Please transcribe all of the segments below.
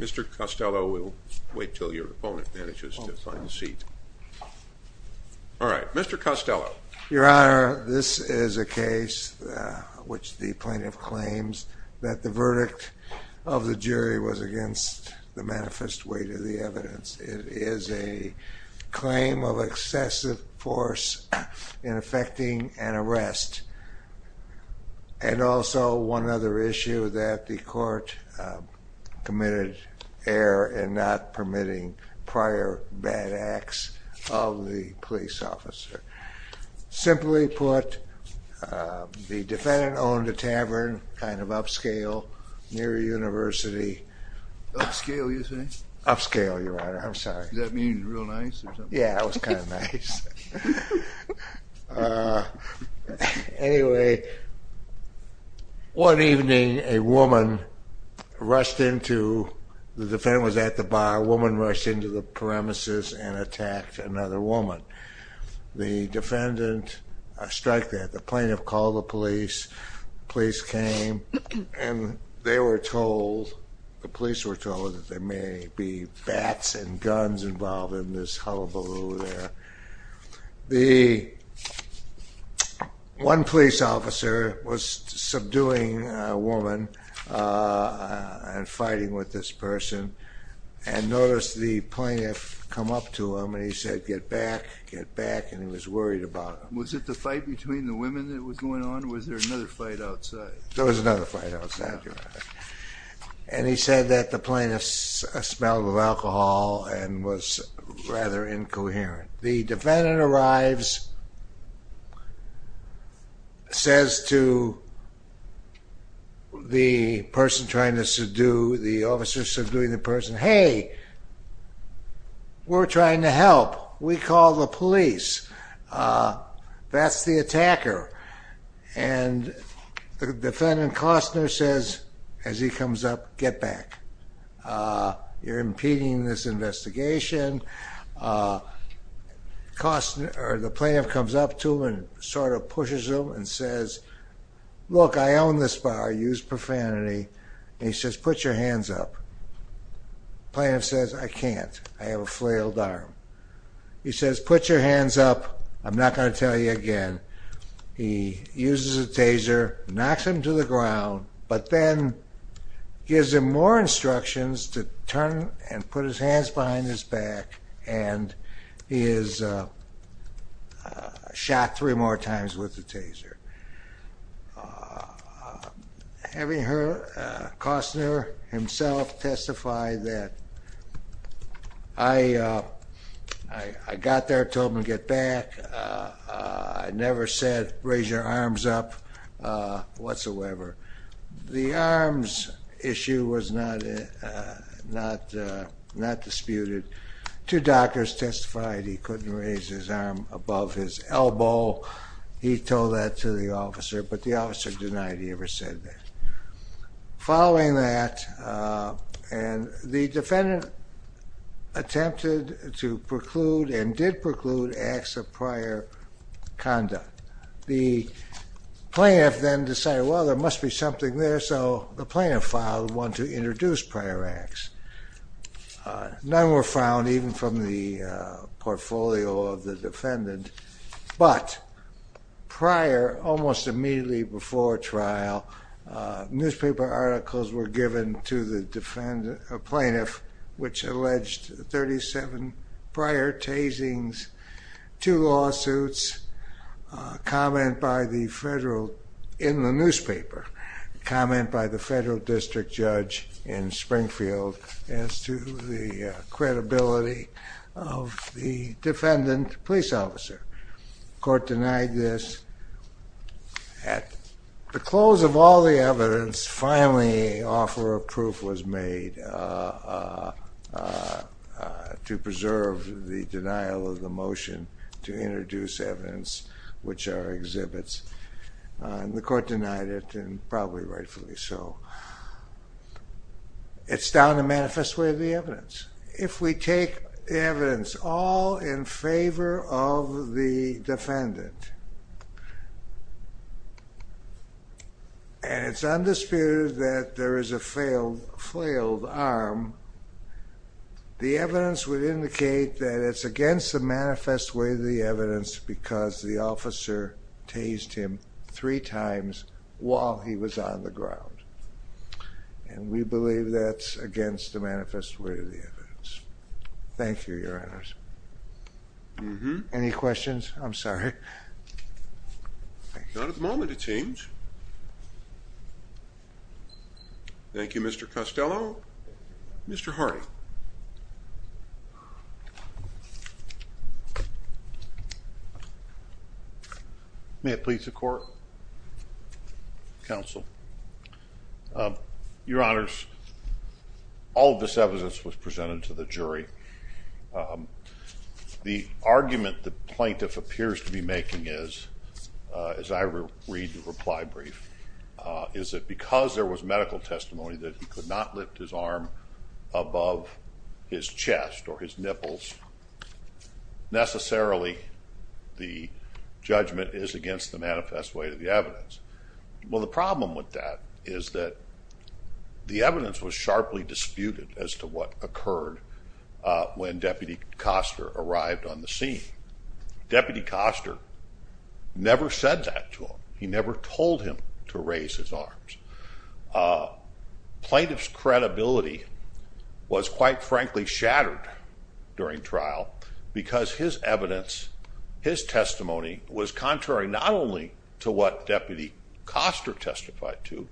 Mr. Kostello Your Honor, this is a case in which the plaintiff claims that the verdict of the jury was against the manifest weight of the evidence. It is a claim of excessive force in effecting an arrest and also one other issue that the court committed error in not permitting prior bad acts of the police officer. Simply put, the defendant owned a tavern, kind of upscale, near a university. Upscale, you say? Upscale, Your Honor, I'm sorry. Does that mean real nice or something? Yeah, it was kind of nice. Anyway, one evening a woman rushed into, the defendant was at the bar, a woman rushed into the premises and attacked another woman. The defendant struck that. The plaintiff called the police. The police came and they were told, the police were told that there may be bats and guns involved in this hullabaloo there. The one police officer was subduing a woman and fighting with this person and noticed the plaintiff come up to him and he said, get back, get back, and he was worried about her. Was it the fight between the women that was going on or was there another fight outside? There was another fight outside, Your Honor. And he said that the plaintiff smelled of alcohol and was rather incoherent. The defendant arrives, says to the person trying to subdue, the officer subduing the person, hey, we're trying to help. We called the police. That's the attacker. And the defendant, Costner, says as he comes up, get back. You're impeding this investigation. The plaintiff comes up to him and sort of pushes him and says, look, I own this bar. Use profanity. And he says, put your hands up. The plaintiff says, I can't. I have a flailed arm. He says, put your hands up. I'm not going to tell you again. He uses a taser, knocks him to the ground, but then gives him more instructions to turn and put his hands behind his back. And he is shot three more times with the taser. Having heard Costner himself testify that, I got there, told him to get back. I never said, raise your arms up whatsoever. The arms issue was not disputed. Two doctors testified he couldn't raise his arm above his elbow. He told that to the officer, but the officer denied he ever said that. Following that, the defendant attempted to preclude and did preclude acts of prior conduct. The plaintiff then decided, well, there must be something there, so the plaintiff filed one to introduce prior acts. None were found, even from the portfolio of the defendant. But prior, almost immediately before trial, newspaper articles were given to the plaintiff, which alleged 37 prior tasings, two lawsuits, comment by the federal, in the newspaper, comment by the federal district judge in Springfield as to the credibility of the defendant police officer. The court denied this. At the close of all the evidence, finally an offer of proof was made to preserve the denial of the motion to introduce evidence, which are exhibits. The court denied it, and probably rightfully so. It's down to manifest way of the evidence. If we take evidence all in favor of the defendant, and it's undisputed that there is a failed arm, the evidence would indicate that it's against the manifest way of the evidence because the officer tased him three times while he was on the ground. And we believe that's against the manifest way of the evidence. Thank you, Your Honors. Any questions? I'm sorry. Not at the moment, it seems. Thank you, Mr. Costello. Mr. Hardy. May it please the court? Counsel. Your Honors, all of this evidence was presented to the jury. The argument the plaintiff appears to be making is, as I read the reply brief, is that because there was medical testimony that he could not lift his arm above his chest or his nipples, necessarily the judgment is against the manifest way of the evidence. Well, the problem with that is that the evidence was sharply disputed as to what occurred when Deputy Koster arrived on the scene. Deputy Koster never said that to him. He never told him to raise his arms. Plaintiff's credibility was quite frankly shattered during trial because his evidence, his testimony was contrary not only to what Deputy Koster testified to,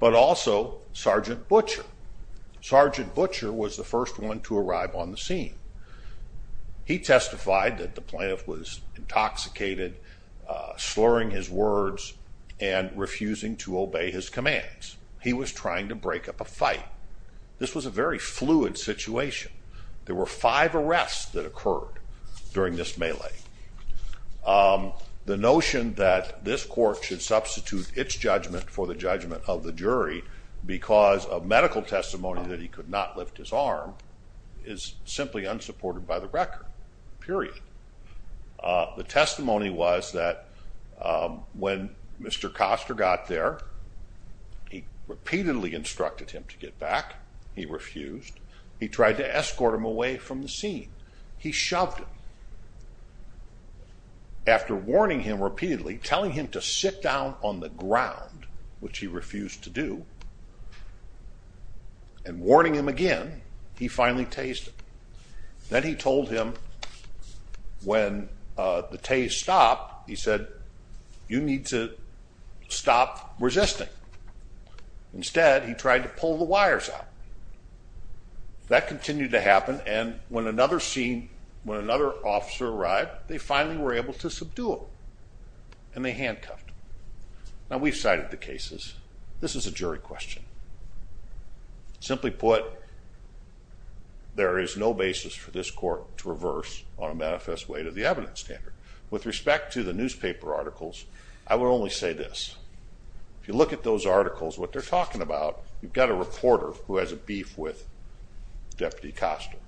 but also Sergeant Butcher. Sergeant Butcher was the first one to arrive on the scene. He testified that the plaintiff was intoxicated, slurring his words, and refusing to obey his commands. He was trying to break up a fight. This was a very fluid situation. There were five arrests that occurred during this melee. The notion that this court should substitute its judgment for the judgment of the jury because of medical testimony that he could not lift his arm is simply unsupported by the record, period. The testimony was that when Mr. Koster got there, he repeatedly instructed him to get back. He refused. He tried to escort him away from the scene. He shoved him. After warning him repeatedly, telling him to sit down on the ground, which he refused to do, and warning him again, he finally tased him. Then he told him when the tase stopped, he said, you need to stop resisting. Instead, he tried to pull the wires out. That continued to happen, and when another officer arrived, they finally were able to subdue him, and they handcuffed him. Now, we've cited the cases. This is a jury question. Simply put, there is no basis for this court to reverse on a manifest way to the evidence standard. With respect to the newspaper articles, I would only say this. If you look at those articles, what they're talking about, you've got a reporter who has a beef with Deputy Koster.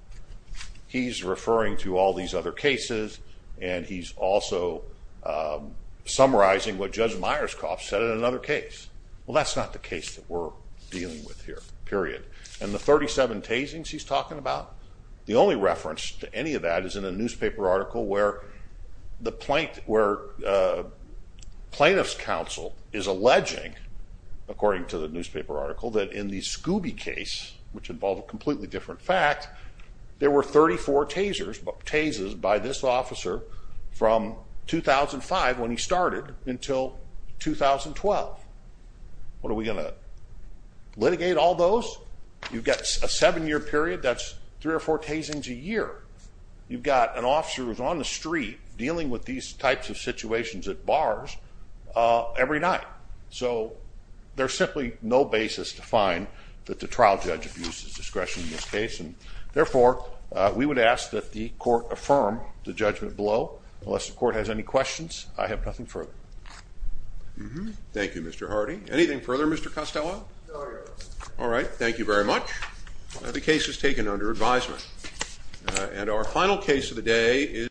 He's referring to all these other cases, and he's also summarizing what Judge Myerscough said in another case. Well, that's not the case that we're dealing with here, period. And the 37 tasings he's talking about, the only reference to any of that is in a newspaper article where the plaintiff's counsel is alleging, according to the newspaper article, that in the Scooby case, which involved a completely different fact, there were 34 tasers by this officer from 2005 when he started until 2012. What, are we going to litigate all those? You've got a seven-year period. That's three or four tasings a year. You've got an officer who's on the street dealing with these types of situations at bars every night. So there's simply no basis to find that the trial judge abuses discretion in this case. And, therefore, we would ask that the court affirm the judgment below. Unless the court has any questions, I have nothing further. Thank you, Mr. Hardy. Anything further, Mr. Costello? No, Your Honor. All right. Thank you very much. The case is taken under advisement.